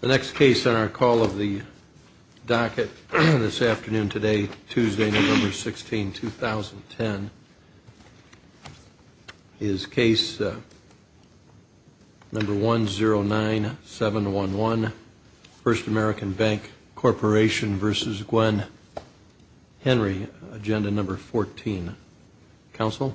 The next case on our call of the docket this afternoon today, Tuesday, November 16, 2010, is case number 109711, First American Bank Corporation v. Gwen Henry, agenda number 14. Counsel?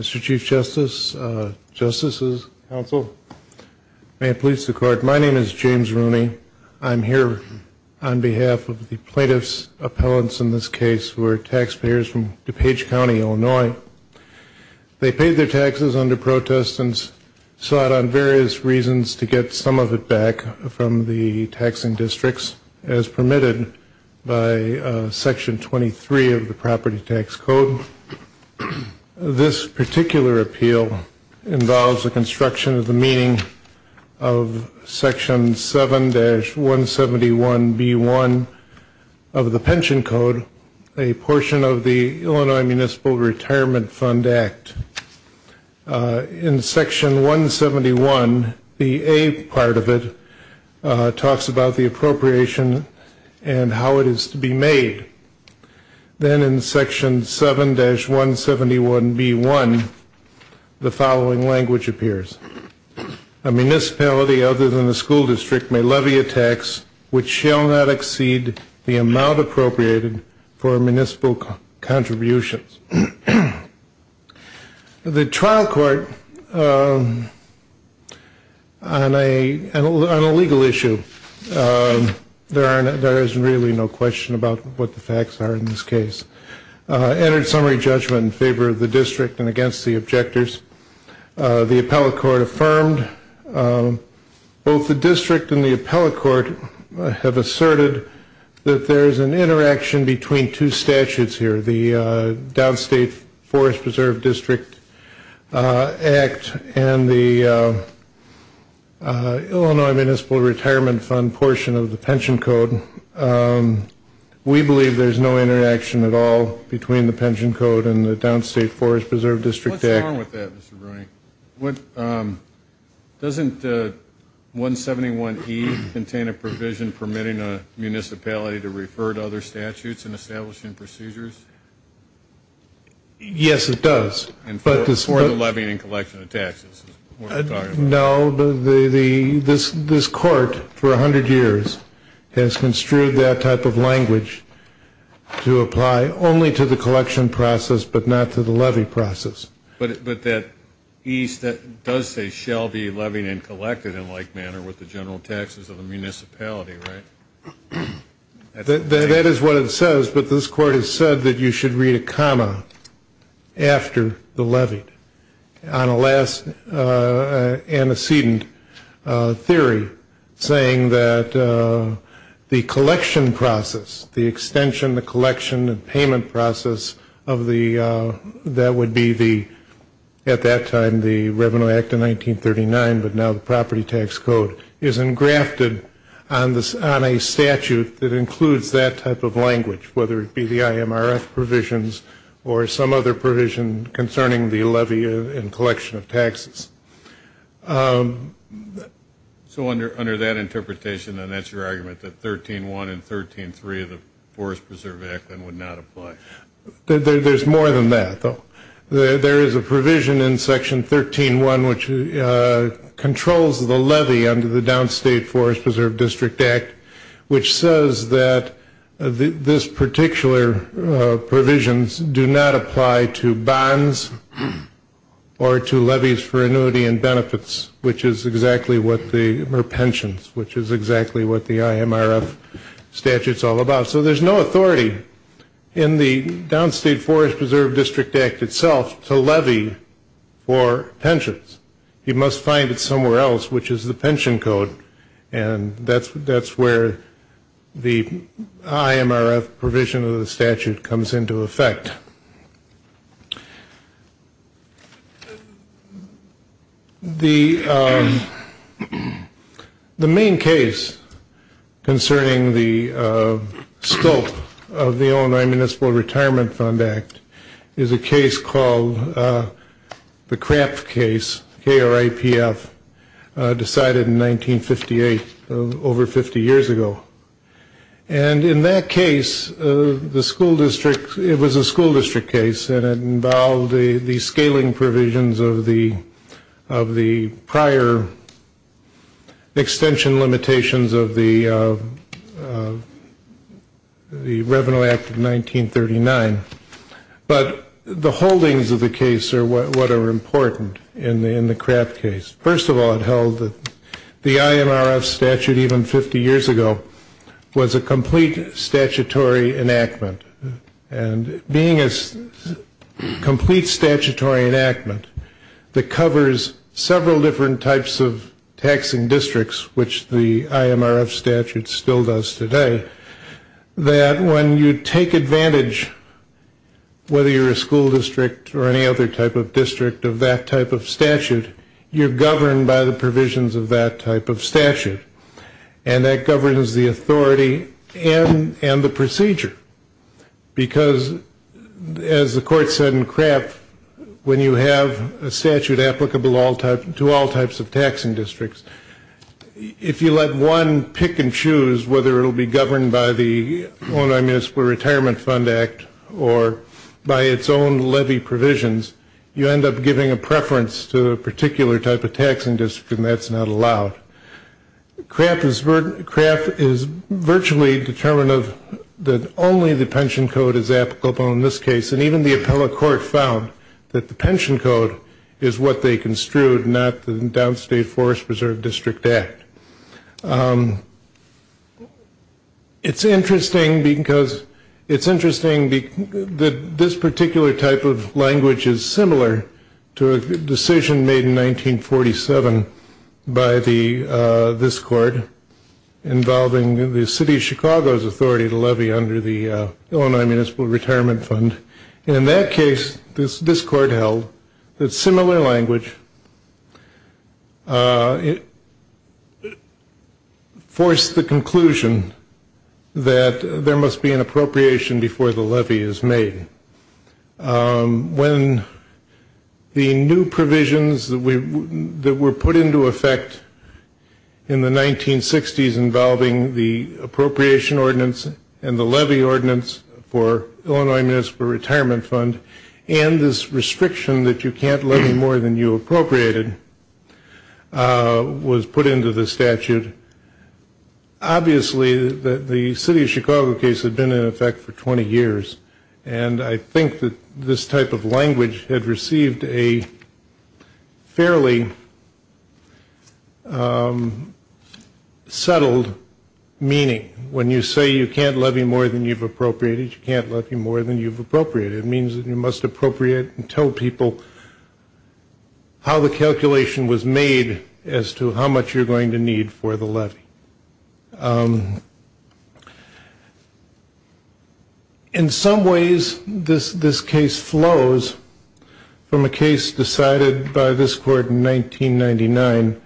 Mr. Chief Justice. May it please the Court, my name is James Rooney. I'm here on behalf of the plaintiff's appellants in this case who are taxpayers from DuPage County, Illinois. They paid their taxes under protest and sought on various reasons to get some of it back from the taxing districts as permitted by Section 23 of the Property Tax Code. This particular appeal involves the construction of the meaning of Section 7-171B1 of the Pension Code, a portion of the Illinois Municipal Retirement Fund Act. In Section 171, the A part of it talks about the appropriation and how it is to be made. Then in Section 7-171B1, the following language appears. A municipality other than the school district may levy a tax which shall not exceed the amount appropriated for municipal contributions. The trial court on a legal issue, there is really no question about what the facts are in this case, entered summary judgment in favor of the district and against the objectors. The appellate court affirmed both the district and the appellate court have asserted that there is an interaction between two statutes here, the Downstate Forest Preserve District Act and the Illinois Municipal Retirement Fund portion of the Pension Code. We believe there is no interaction at all between the Pension Code and the Downstate Forest Preserve District Act. What's wrong with that, Mr. Bruni? Doesn't 171E contain a provision permitting a municipality to refer to other statutes in establishing procedures? Yes, it does. For the levying and collection of taxes. No, this court for 100 years has construed that type of language to apply only to the collection process but not to the levy process. But that E does say shall be levied and collected in like manner with the general taxes of the municipality, right? That is what it says, but this court has said that you should read a comma after the levied on a last antecedent theory saying that the collection process, the extension, the collection and payment process of the, that would be the, at that time the Revenue Act of 1939 but now the Property Tax Code, is engrafted on a statute that includes that type of language, whether it be the IMRF provisions or some other provision concerning the levy and collection of taxes. So under that interpretation then that's your argument that 13.1 and 13.3 of the Forest Preserve Act then would not apply? There's more than that though. There is a provision in Section 13.1 which controls the levy under the Downstate Forest Preserve District Act which says that this particular provisions do not apply to bonds or to levies for annuity and benefits which is exactly what the, or pensions, which is exactly what the IMRF statute's all about. So there's no authority in the Downstate Forest Preserve District Act itself to levy for pensions. You must find it somewhere else which is the pension code and that's where the IMRF provision of the statute comes into effect. The main case concerning the scope of the Illinois Municipal Retirement Fund Act is a case called the KRAPF case, K-R-A-P-F, decided in 1958, over 50 years ago. And in that case the school district, it was a school district case and it involved the scaling provisions of the prior extension limitations of the Revenue Act of 1939. But the holdings of the case are what are important in the KRAPF case. First of all, it held that the IMRF statute even 50 years ago was a complete statutory enactment. And being a complete statutory enactment that covers several different types of taxing districts which the IMRF statute still does today, that when you take advantage, whether you're a school district or any other type of district of that type of statute, you're governed by the provisions of that type of statute. And that governs the authority and the procedure. Because as the court said in KRAPF, when you have a statute applicable to all types of taxing districts, if you let one pick and choose whether it will be governed by the Illinois Municipal Retirement Fund Act or by its own levy provisions, you end up giving a preference to a particular type of taxing district and that's not allowed. KRAPF is virtually determined that only the pension code is applicable in this case. And even the appellate court found that the pension code is what they construed, not the Downstate Forest Preserve District Act. It's interesting because this particular type of language is similar to a decision made in 1947 by this court involving the city of Chicago's authority to levy under the Illinois Municipal Retirement Fund. And in that case, this court held that similar language forced the conclusion that there must be an appropriation before the levy is made. When the new provisions that were put into effect in the 1960s involving the appropriation ordinance and the levy ordinance for Illinois Municipal Retirement Fund and this restriction that you can't levy more than you appropriated was put into the statute, obviously the city of Chicago case had been in effect for 20 years and I think that this type of language had received a fairly settled meaning. When you say you can't levy more than you've appropriated, you can't levy more than you've appropriated. It means that you must appropriate and tell people how the calculation was made as to how much you're going to need for the levy. In some ways, this case flows from a case decided by this court in 1999,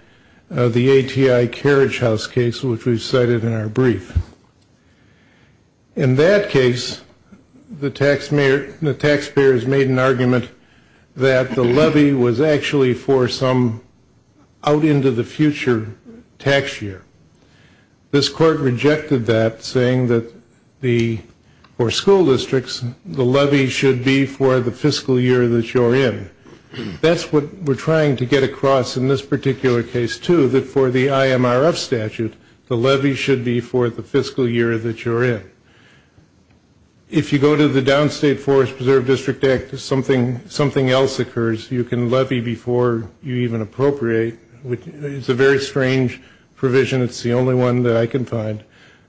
the ATI Carriage House case which we cited in our brief. In that case, the taxpayers made an argument that the levy was actually for some out into the future tax year. This court rejected that saying that for school districts, the levy should be for the fiscal year that you're in. That's what we're trying to get across in this particular case too that for the IMRF statute, the levy should be for the fiscal year that you're in. If you go to the Downstate Forest Preserve District Act, something else occurs. You can levy before you even appropriate which is a very strange provision. It's the only one that I can find.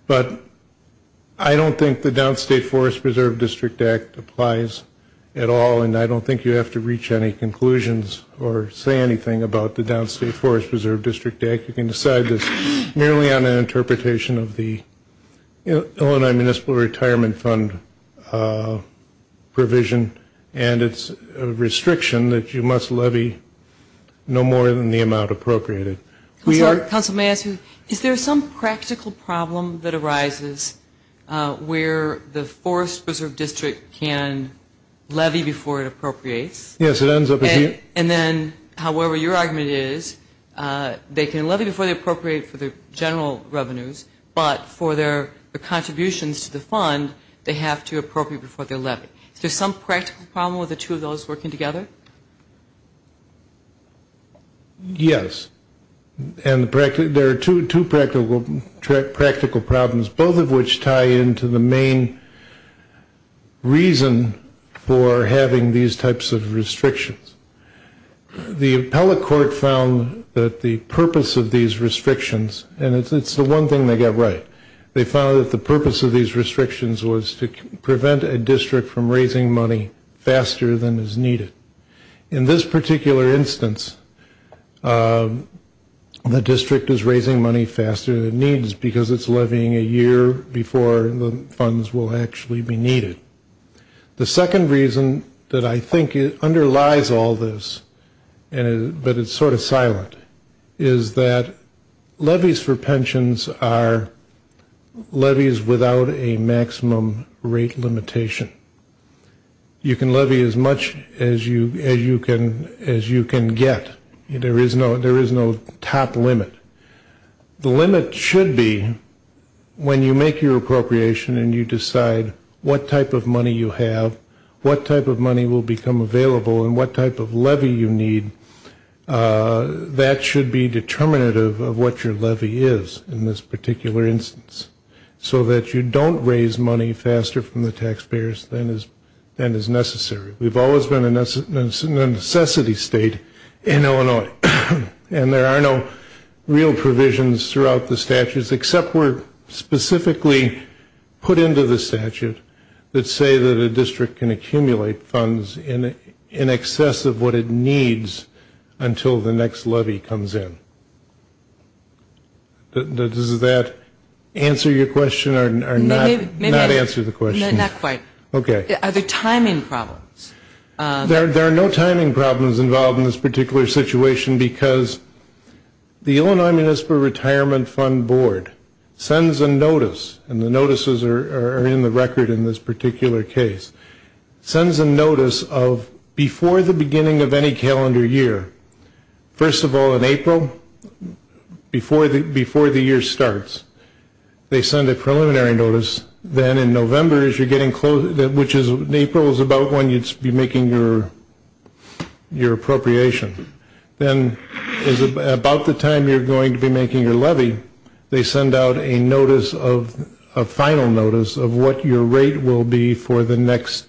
But I don't think the Downstate Forest Preserve District Act applies at all and I don't think you have to reach any conclusions or say anything about the Downstate Forest Preserve District Act. You can decide this merely on an interpretation of the Illinois Municipal Retirement Fund provision and it's a restriction that you must levy no more than the amount appropriated. Is there some practical problem that arises where the Forest Preserve District can levy before it appropriates and then however your argument is, they can levy before they appropriate for the general revenues but for their contributions to the fund, they have to appropriate before they levy. Is there some practical problem with the two of those working together? Yes. There are two practical problems, both of which tie into the main reason for having these types of restrictions. The appellate court found that the purpose of these restrictions, and it's the one thing they got right, they found that the purpose of these restrictions was to prevent a district from raising money faster than is needed. In this particular instance, the district is raising money faster than it needs because it's levying a year before the funds will actually be needed. The second reason that I think underlies all this, but it's sort of silent, is that levies for pensions are levies without a maximum rate limitation. You can levy as much as you can get. There is no top limit. The limit should be when you make your appropriation and you decide what type of money you have, what type of money will become available and what type of levy you need, that should be determinative of what your levy is in this particular instance so that you don't raise money faster from the taxpayers than is necessary. We've always been a necessity state in Illinois, and there are no real provisions throughout the statutes except where specifically put into the statute that say that a district can accumulate funds in excess of what it needs until the next levy comes in. Does that answer your question or not answer the question? Not quite. Okay. Are there timing problems? There are no timing problems involved in this particular situation because the Illinois Municipal Retirement Fund Board sends a notice, and the notices are in the record in this particular case, sends a notice of before the beginning of any calendar year, first of all, in April, before the year starts, they send a preliminary notice. Then in November, which in April is about when you'd be making your appropriation, then about the time you're going to be making your levy, they send out a final notice of what your rate will be for the next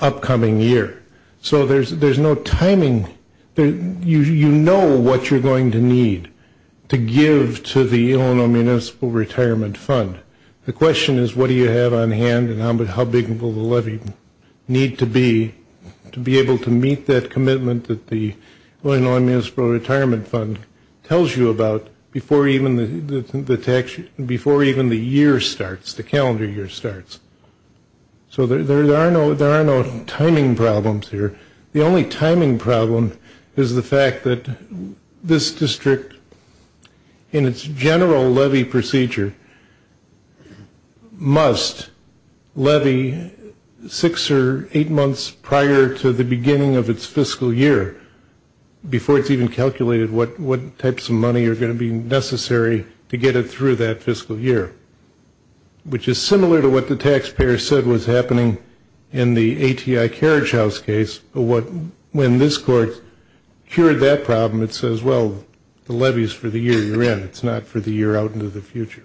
upcoming year. So there's no timing. You know what you're going to need to give to the Illinois Municipal Retirement Fund. The question is what do you have on hand and how big will the levy need to be to be able to meet that commitment that the Illinois Municipal Retirement Fund tells you about before even the year starts, the calendar year starts. So there are no timing problems here. The only timing problem is the fact that this district, in its general levy procedure, must levy six or eight months prior to the beginning of its fiscal year before it's even calculated what types of money are going to be necessary to get it through that fiscal year, which is similar to what the taxpayer said was happening in the ATI Carriage House case. But when this court cured that problem, it says, well, the levy is for the year you're in. It's not for the year out into the future.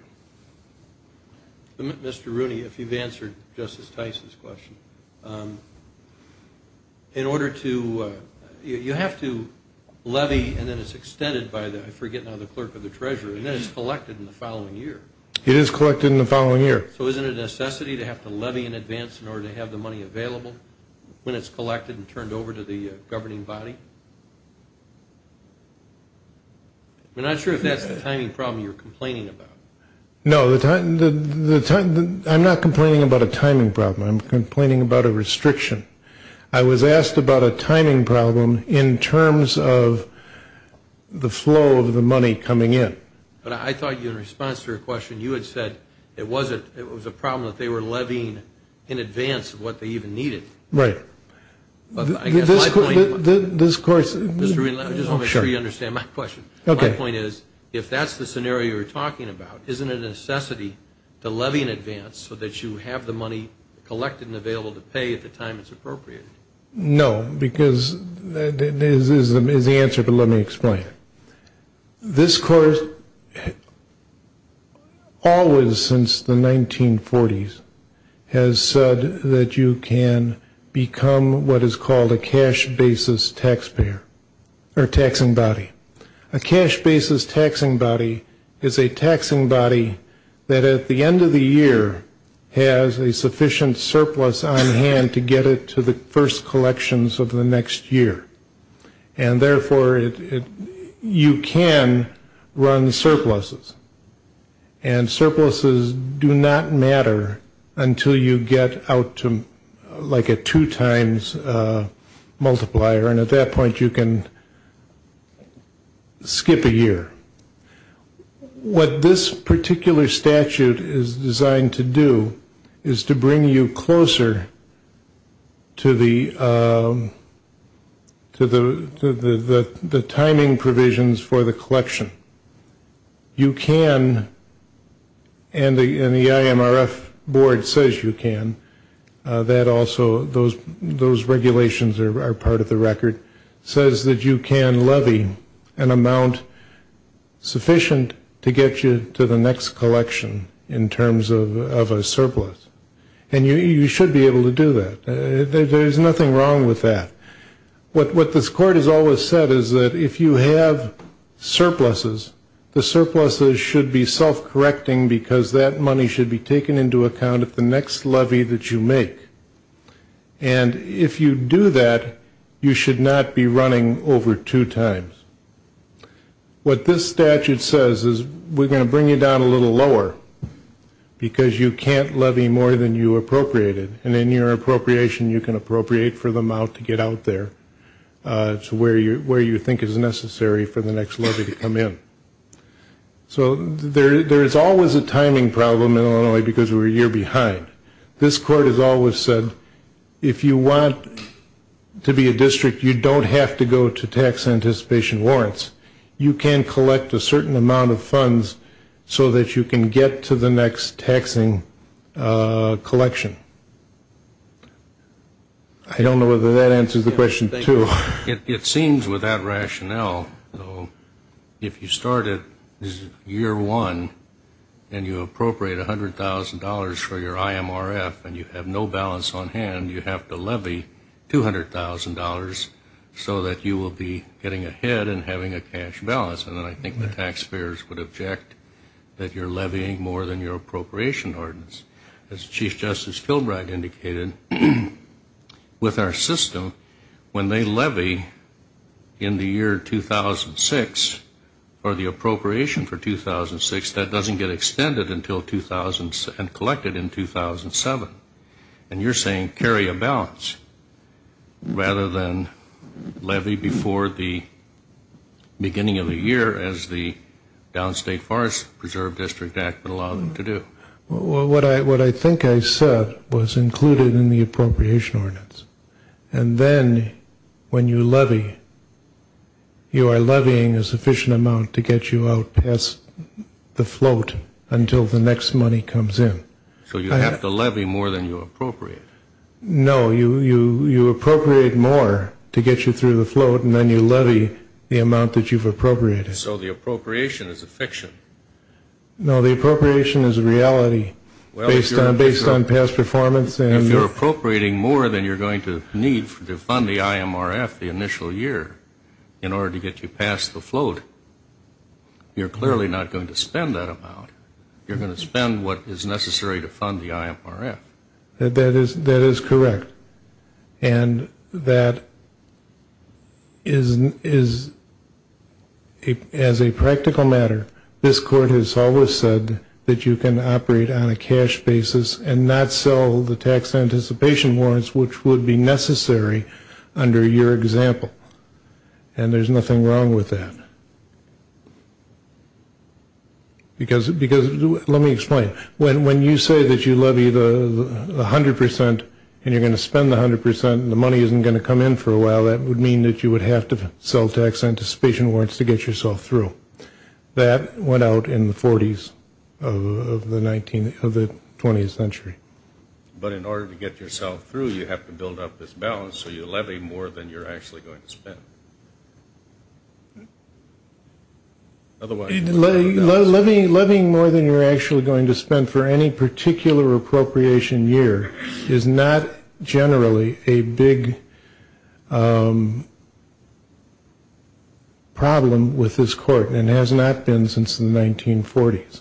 Mr. Rooney, if you've answered Justice Tice's question, in order to you have to levy and then it's extended by the, I forget now, the clerk or the treasurer, and then it's collected in the following year. It is collected in the following year. So isn't it a necessity to have to levy in advance in order to have the money available when it's collected and turned over to the governing body? We're not sure if that's the timing problem you're complaining about. No, I'm not complaining about a timing problem. I'm complaining about a restriction. I was asked about a timing problem in terms of the flow of the money coming in. But I thought in response to your question, you had said it was a problem that they were levying in advance of what they even needed. Right. But I guess my point is, Mr. Rooney, let me just make sure you understand my question. Okay. My point is, if that's the scenario you're talking about, isn't it a necessity to levy in advance so that you have the money collected and available to pay at the time it's appropriate? No, because this is the answer, but let me explain. This course, always since the 1940s, has said that you can become what is called a cash basis tax payer or taxing body. A cash basis taxing body is a taxing body that at the end of the year has a sufficient surplus on hand to get it to the first collections of the next year. And, therefore, you can run surpluses. And surpluses do not matter until you get out to like a two-times multiplier, and at that point you can skip a year. What this particular statute is designed to do is to bring you closer to the timing provisions for the collection. You can, and the IMRF board says you can, that also those regulations are part of the record, says that you can levy an amount sufficient to get you to the next collection in terms of a surplus. And you should be able to do that. There's nothing wrong with that. What this court has always said is that if you have surpluses, the surpluses should be self-correcting because that money should be taken into account at the next levy that you make. And if you do that, you should not be running over two times. What this statute says is we're going to bring you down a little lower because you can't levy more than you appropriated, and in your appropriation you can appropriate for the amount to get out there to where you think is necessary for the next levy to come in. So there is always a timing problem in Illinois because we're a year behind. This court has always said if you want to be a district, you don't have to go to tax anticipation warrants. You can collect a certain amount of funds so that you can get to the next taxing collection. I don't know whether that answers the question, too. It seems with that rationale, if you start at year one and you appropriate $100,000 for your IMRF and you have no balance on hand, you have to levy $200,000 so that you will be getting ahead and having a cash balance. And I think the taxpayers would object that you're levying more than your appropriation ordinance. As Chief Justice Filbright indicated, with our system, when they levy in the year 2006 or the appropriation for 2006, that doesn't get extended until 2007 and collected in 2007. And you're saying carry a balance rather than levy before the beginning of the year as the Downstate Forest Preserve District Act would allow them to do. What I think I said was included in the appropriation ordinance. And then when you levy, you are levying a sufficient amount to get you out past the float until the next money comes in. So you have to levy more than you appropriate. No, you appropriate more to get you through the float, and then you levy the amount that you've appropriated. So the appropriation is a fiction. No, the appropriation is a reality based on past performance. If you're appropriating more than you're going to need to fund the IMRF the initial year in order to get you past the float, you're clearly not going to spend that amount. You're going to spend what is necessary to fund the IMRF. That is correct. And that is, as a practical matter, this court has always said that you can operate on a cash basis and not sell the tax anticipation warrants which would be necessary under your example. And there's nothing wrong with that. Because let me explain. When you say that you levy the 100% and you're going to spend the 100% and the money isn't going to come in for a while, that would mean that you would have to sell tax anticipation warrants to get yourself through. That went out in the 40s of the 20th century. But in order to get yourself through, you have to build up this balance, so you're levying more than you're actually going to spend. And that has been a problem with this court and has not been since the 1940s.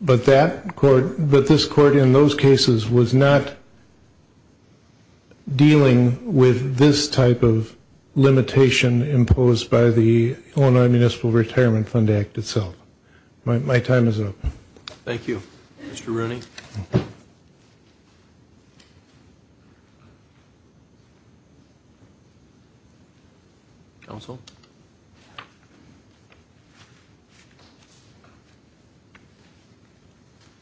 But this court in those cases was not dealing with this type of limitation imposed by the Illinois Municipal Retirement Fund Act itself. My time is up. Thank you. Mr. Rooney. Counsel.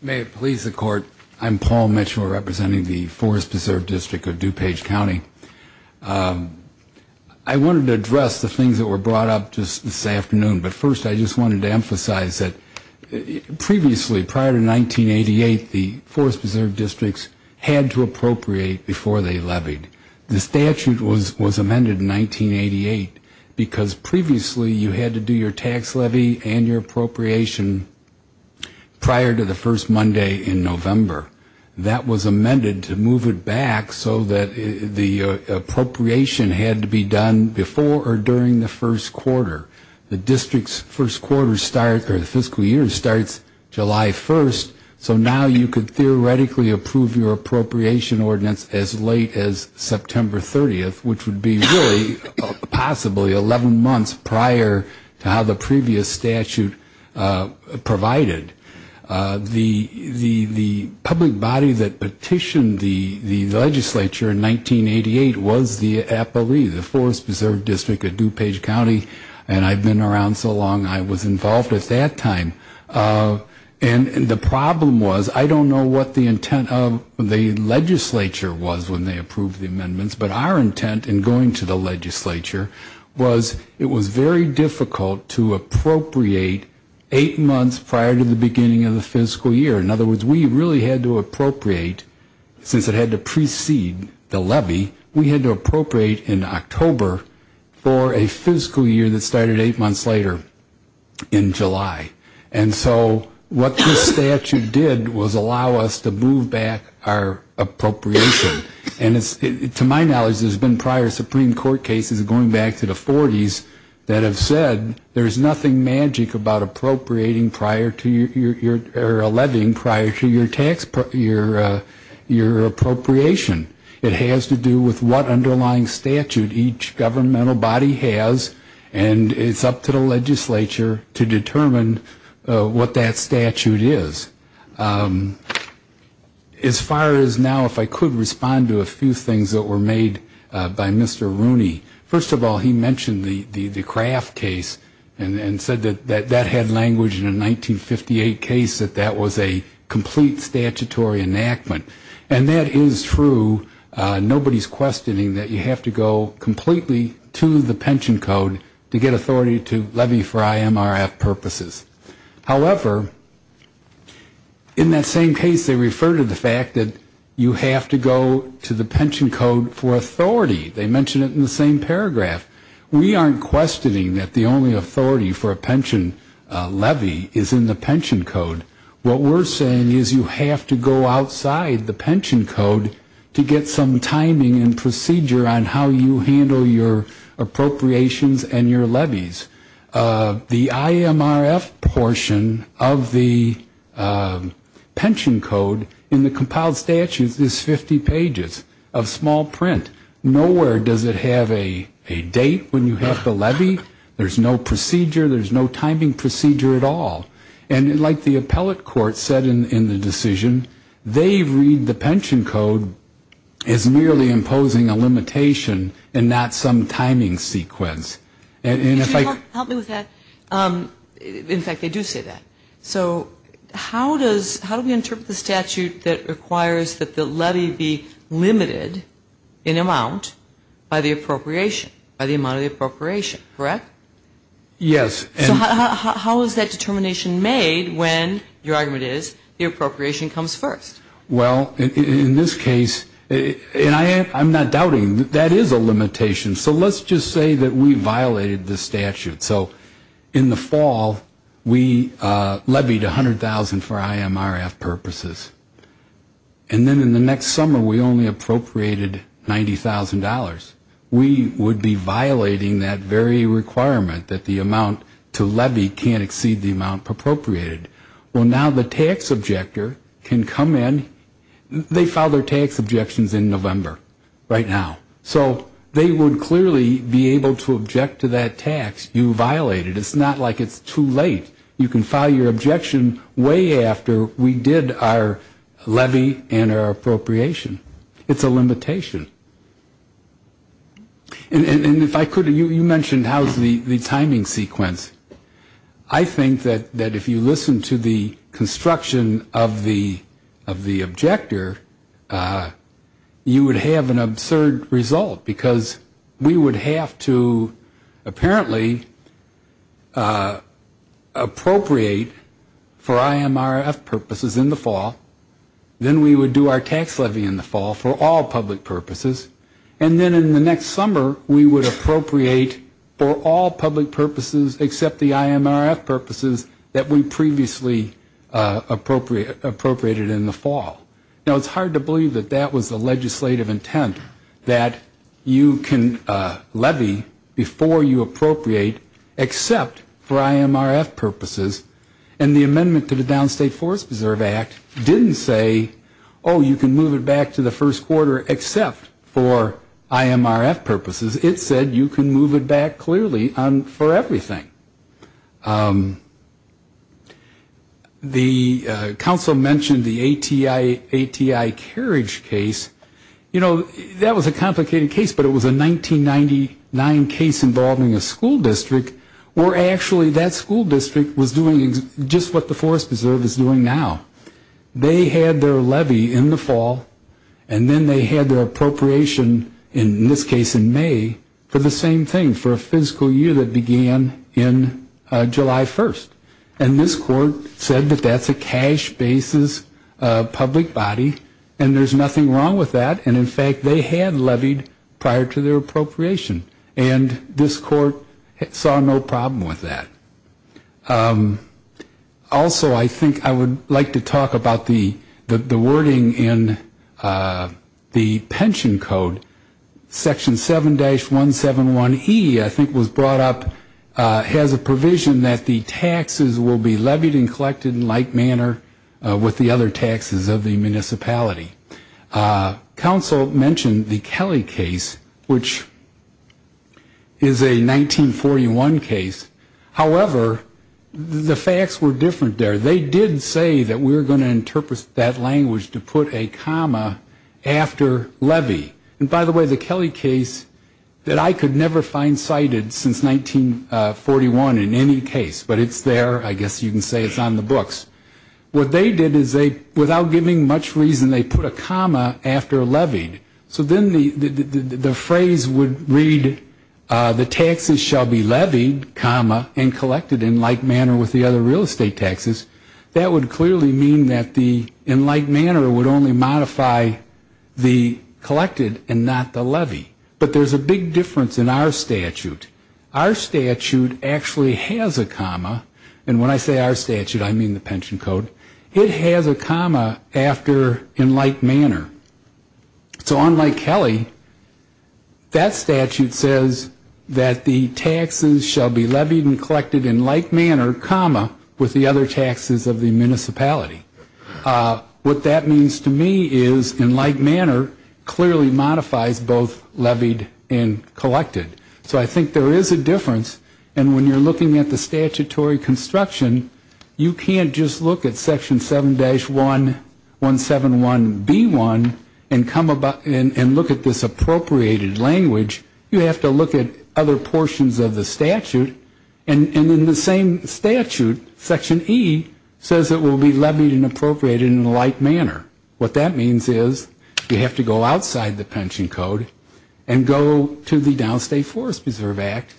May it please the Court. I'm Paul Mitchell representing the Forest Preserve District of DuPage County. I wanted to address the things that were brought up just this afternoon, but first I just wanted to emphasize that previously, prior to 1988, the Forest Preserve Districts had to appropriate before they levied. The statute was amended in 1988 because previously you had to do your tax levy and your appropriation prior to the first Monday in November. That was amended to move it back so that the appropriation had to be done before or during the first quarter. The district's fiscal year starts July 1st, so now you could theoretically approve your appropriation ordinance as late as September 30th, which would be really possibly 11 months prior to how the previous statute provided. The public body that petitioned the legislature in 1988 was the APOE, the Forest Preserve District of DuPage County, and I've been around so long, I was involved at that time. And the problem was, I don't know what the intent of the legislature was when they approved the amendments, but our intent in going to the legislature was it was very difficult to appropriate eight months prior to the beginning of the fiscal year. In other words, we really had to appropriate, since it had to precede the levy, we had to appropriate in October for a fiscal year that started eight months later in July. And so what this statute did was allow us to move back our appropriation. And to my knowledge, there's been prior Supreme Court cases going back to the 40s that have said there's nothing magic about appropriating prior to your, or levying prior to your tax, your appropriation. It has to do with what underlying statute each governmental body has, and it's up to the legislature to determine what that statute is. As far as now, if I could respond to a few things that were made by Mr. Rooney. First of all, he mentioned the Kraft case and said that that had language in a 1958 case, that that was a complete statutory enactment. And that is true. Nobody's questioning that you have to go completely to the pension code to get authority to levy for IMRF purposes. However, in that same case, they refer to the fact that you have to go to the pension code for authority. They mention it in the same paragraph. We aren't questioning that the only authority for a pension levy is in the pension code. What we're saying is you have to go outside the pension code to get some timing and procedure on how you handle your appropriations and your levies. The IMRF portion of the pension code in the compiled statute is 50 pages of small print. Nowhere does it have a date when you have to levy. There's no procedure. There's no timing procedure at all. And like the appellate court said in the decision, they read the pension code as merely imposing a limitation and not some timing sequence. And if I could... Can you help me with that? In fact, they do say that. So how do we interpret the statute that requires that the levy be limited in amount by the appropriation, by the amount of the appropriation, correct? Yes. So how is that determination made when your argument is the appropriation comes first? Well, in this case, and I'm not doubting that that is a limitation. So let's just say that we violated the statute. So in the fall, we levied $100,000 for IMRF purposes. And then in the next summer, we only appropriated $90,000. We would be violating that very requirement that the amount to levy can't exceed the amount appropriated. Well, now the tax objector can come in. They file their tax objections in November right now. So they would clearly be able to object to that tax you violated. It's not like it's too late. You can file your objection way after we did our levy and our appropriation. It's a limitation. And if I could, you mentioned how's the timing sequence. I think that if you listen to the construction of the objector, you would have an absurd result because we would have to apparently appropriate for IMRF purposes in the fall. Then we would do our tax levy in the fall for all public purposes. And then in the next summer, we would appropriate for all public purposes except the IMRF purposes that we previously appropriated in the fall. Now, it's hard to believe that that was the legislative intent, that you can levy before you appropriate except for IMRF purposes. And the amendment to the Downstate Forest Preserve Act didn't say, oh, you can move it back to the first quarter except for IMRF purposes. It said you can move it back clearly for everything. The council mentioned the ATI carriage case. You know, that was a complicated case, but it was a 1999 case involving a school district where actually that school district was doing just what the Forest Preserve is doing now. They had their levy in the fall, and then they had their appropriation, in this case in May, for the same thing, for a fiscal year that began in July 1st. And this court said that that's a cash basis public body, and there's nothing wrong with that. And, in fact, they had levied prior to their appropriation. And this court saw no problem with that. Also, I think I would like to talk about the wording in the pension code. Section 7-171E, I think was brought up, has a provision that the taxes will be levied and collected in like manner with the other taxes of the municipality. Council mentioned the Kelly case, which is a 1941 case. However, the facts were different there. They did say that we were going to interpret that language to put a comma after levy. And, by the way, the Kelly case that I could never find cited since 1941 in any case, but it's there. I guess you can say it's on the books. What they did is they, without giving much reason, they put a comma after levied. So then the phrase would read, the taxes shall be levied, comma, and collected in like manner with the other real estate taxes. That would clearly mean that the in like manner would only modify the collected and not the levy. But there's a big difference in our statute. Our statute actually has a comma. And when I say our statute, I mean the pension code. It has a comma after in like manner. So unlike Kelly, that statute says that the taxes shall be levied and collected in like manner, comma, with the other taxes of the municipality. What that means to me is in like manner clearly modifies both levied and collected. So I think there is a difference. And when you're looking at the statutory construction, you can't just look at Section 7-171B1 and look at this appropriated language. You have to look at other portions of the statute. And in the same statute, Section E says it will be levied and appropriated in like manner. What that means is you have to go outside the pension code and go to the Downstate Forest Preserve Act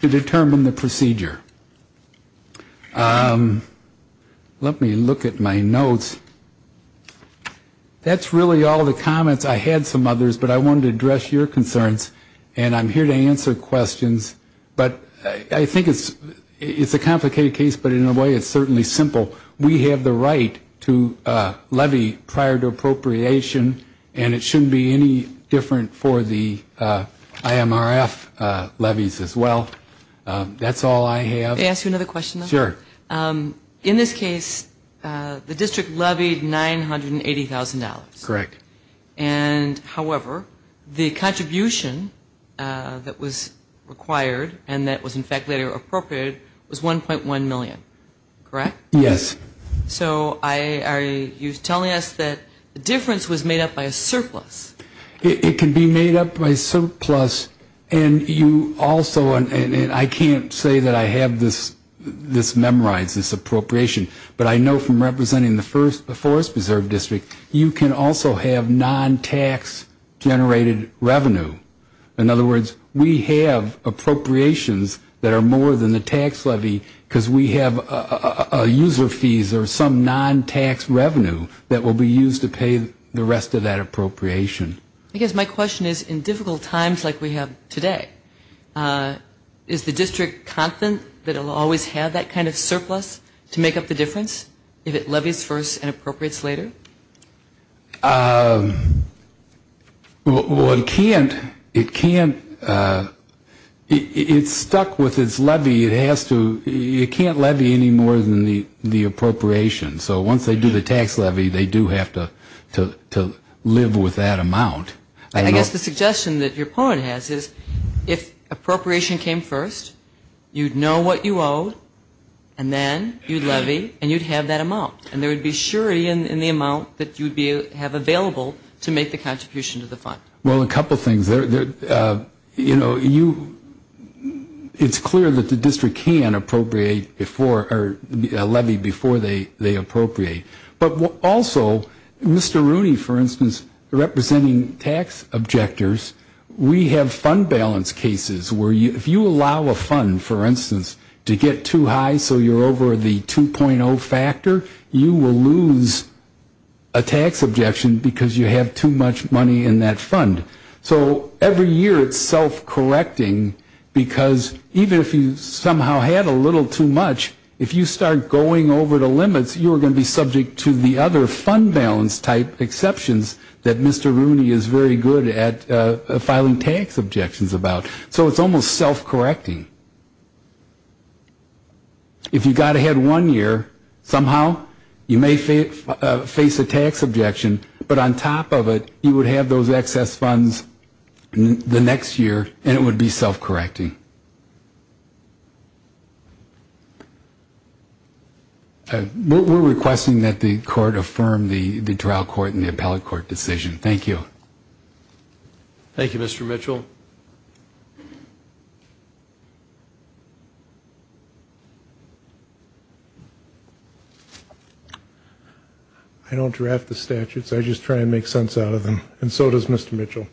to determine the procedure. Let me look at my notes. That's really all the comments. I had some others, but I wanted to address your concerns. And I'm here to answer questions. But I think it's a complicated case, but in a way it's certainly simple. We have the right to levy prior to appropriation, and it shouldn't be any different for the IMRF levies as well. That's all I have. May I ask you another question? Sure. In this case, the district levied $980,000. Correct. And, however, the contribution that was required and that was in fact later appropriated was $1.1 million, correct? Yes. So are you telling us that the difference was made up by a surplus? It can be made up by a surplus. And you also, and I can't say that I have this memorized, this appropriation, but I know from representing the Forest Preserve District, you can also have non-tax generated revenue. In other words, we have appropriations that are more than the tax levy because we have user fees or some non-tax revenue that will be used to pay the rest of that appropriation. I guess my question is in difficult times like we have today, is the district confident that it will always have that kind of surplus to make up the difference if it levies first and appropriates later? Well, it can't. It can't. It's stuck with its levy. It has to, it can't levy any more than the appropriation. So once they do the tax levy, they do have to live with that amount. I guess the suggestion that your point has is if appropriation came first, you'd know what you owe and then you'd levy and you'd have that amount. And there would be surety in the amount that you'd have available to make the contribution to the fund. Well, a couple of things. You know, it's clear that the district can appropriate before or levy before they appropriate. But also, Mr. Rooney, for instance, representing tax objectors, we have fund balance cases where if you allow a fund, for instance, to get too high so you're over the 2.0 factor, you will lose a tax objection because you have too much money in that fund. So every year it's self-correcting because even if you somehow had a little too much, if you start going over the limits, you're going to be subject to the other fund balance type exceptions that Mr. Rooney is very good at filing tax objections about. So it's almost self-correcting. If you got ahead one year, somehow you may face a tax objection, but on top of it you would have those excess funds the next year and it would be self-correcting. We're requesting that the court affirm the trial court and the appellate court decision. Thank you. Thank you, Mr. Mitchell. I don't draft the statutes. I just try and make sense out of them, and so does Mr. Mitchell,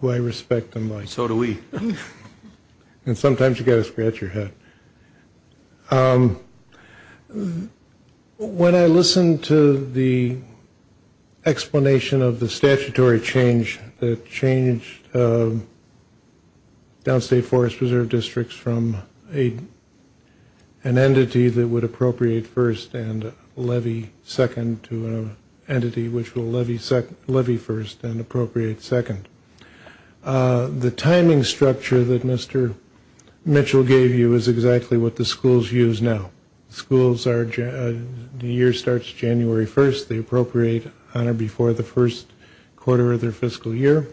who I respect and like. So do we. And sometimes you've got to scratch your head. When I listened to the explanation of the statutory change, the change of downstate forest reserve districts from an entity that would appropriate first and levy second to an entity which will levy first and appropriate second, the timing structure that Mr. Mitchell gave you is exactly what the schools use now. The year starts January 1st. They appropriate on or before the first quarter of their fiscal year,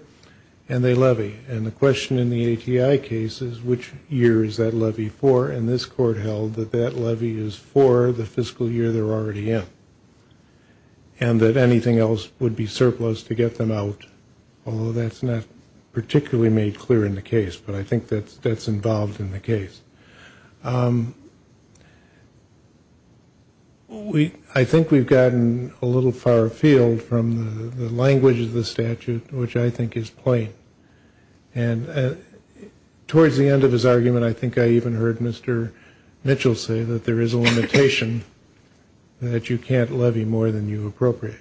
and they levy. And the question in the ATI case is which year is that levy for, and this court held that that levy is for the fiscal year they're already in and that anything else would be surplus to get them out, although that's not particularly made clear in the case, but I think that's involved in the case. I think we've gotten a little far afield from the language of the statute, which I think is plain, and towards the end of his argument I think I even heard Mr. Mitchell say that there is a limitation that you can't levy more than you appropriate.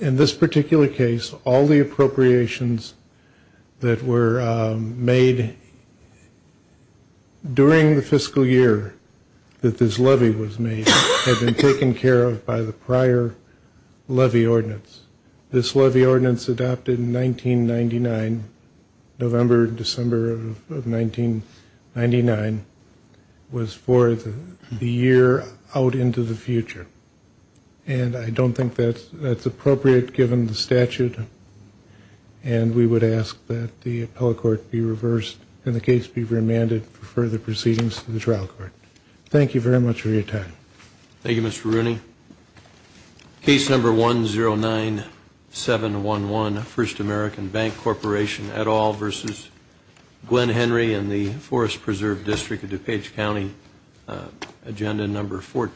In this particular case, all the appropriations that were made during the fiscal year that this levy was made had been taken care of by the prior levy ordinance. This levy ordinance adopted in 1999, November, December of 1999, was for the year out into the future, and I don't think that's appropriate given the statute, and we would ask that the appellate court be reversed and the case be remanded for further proceedings to the trial court. Thank you very much for your time. Thank you, Mr. Rooney. Case number 109711, First American Bank Corporation, et al. versus Glen Henry and the Forest Preserve District of DuPage County, agenda number 14.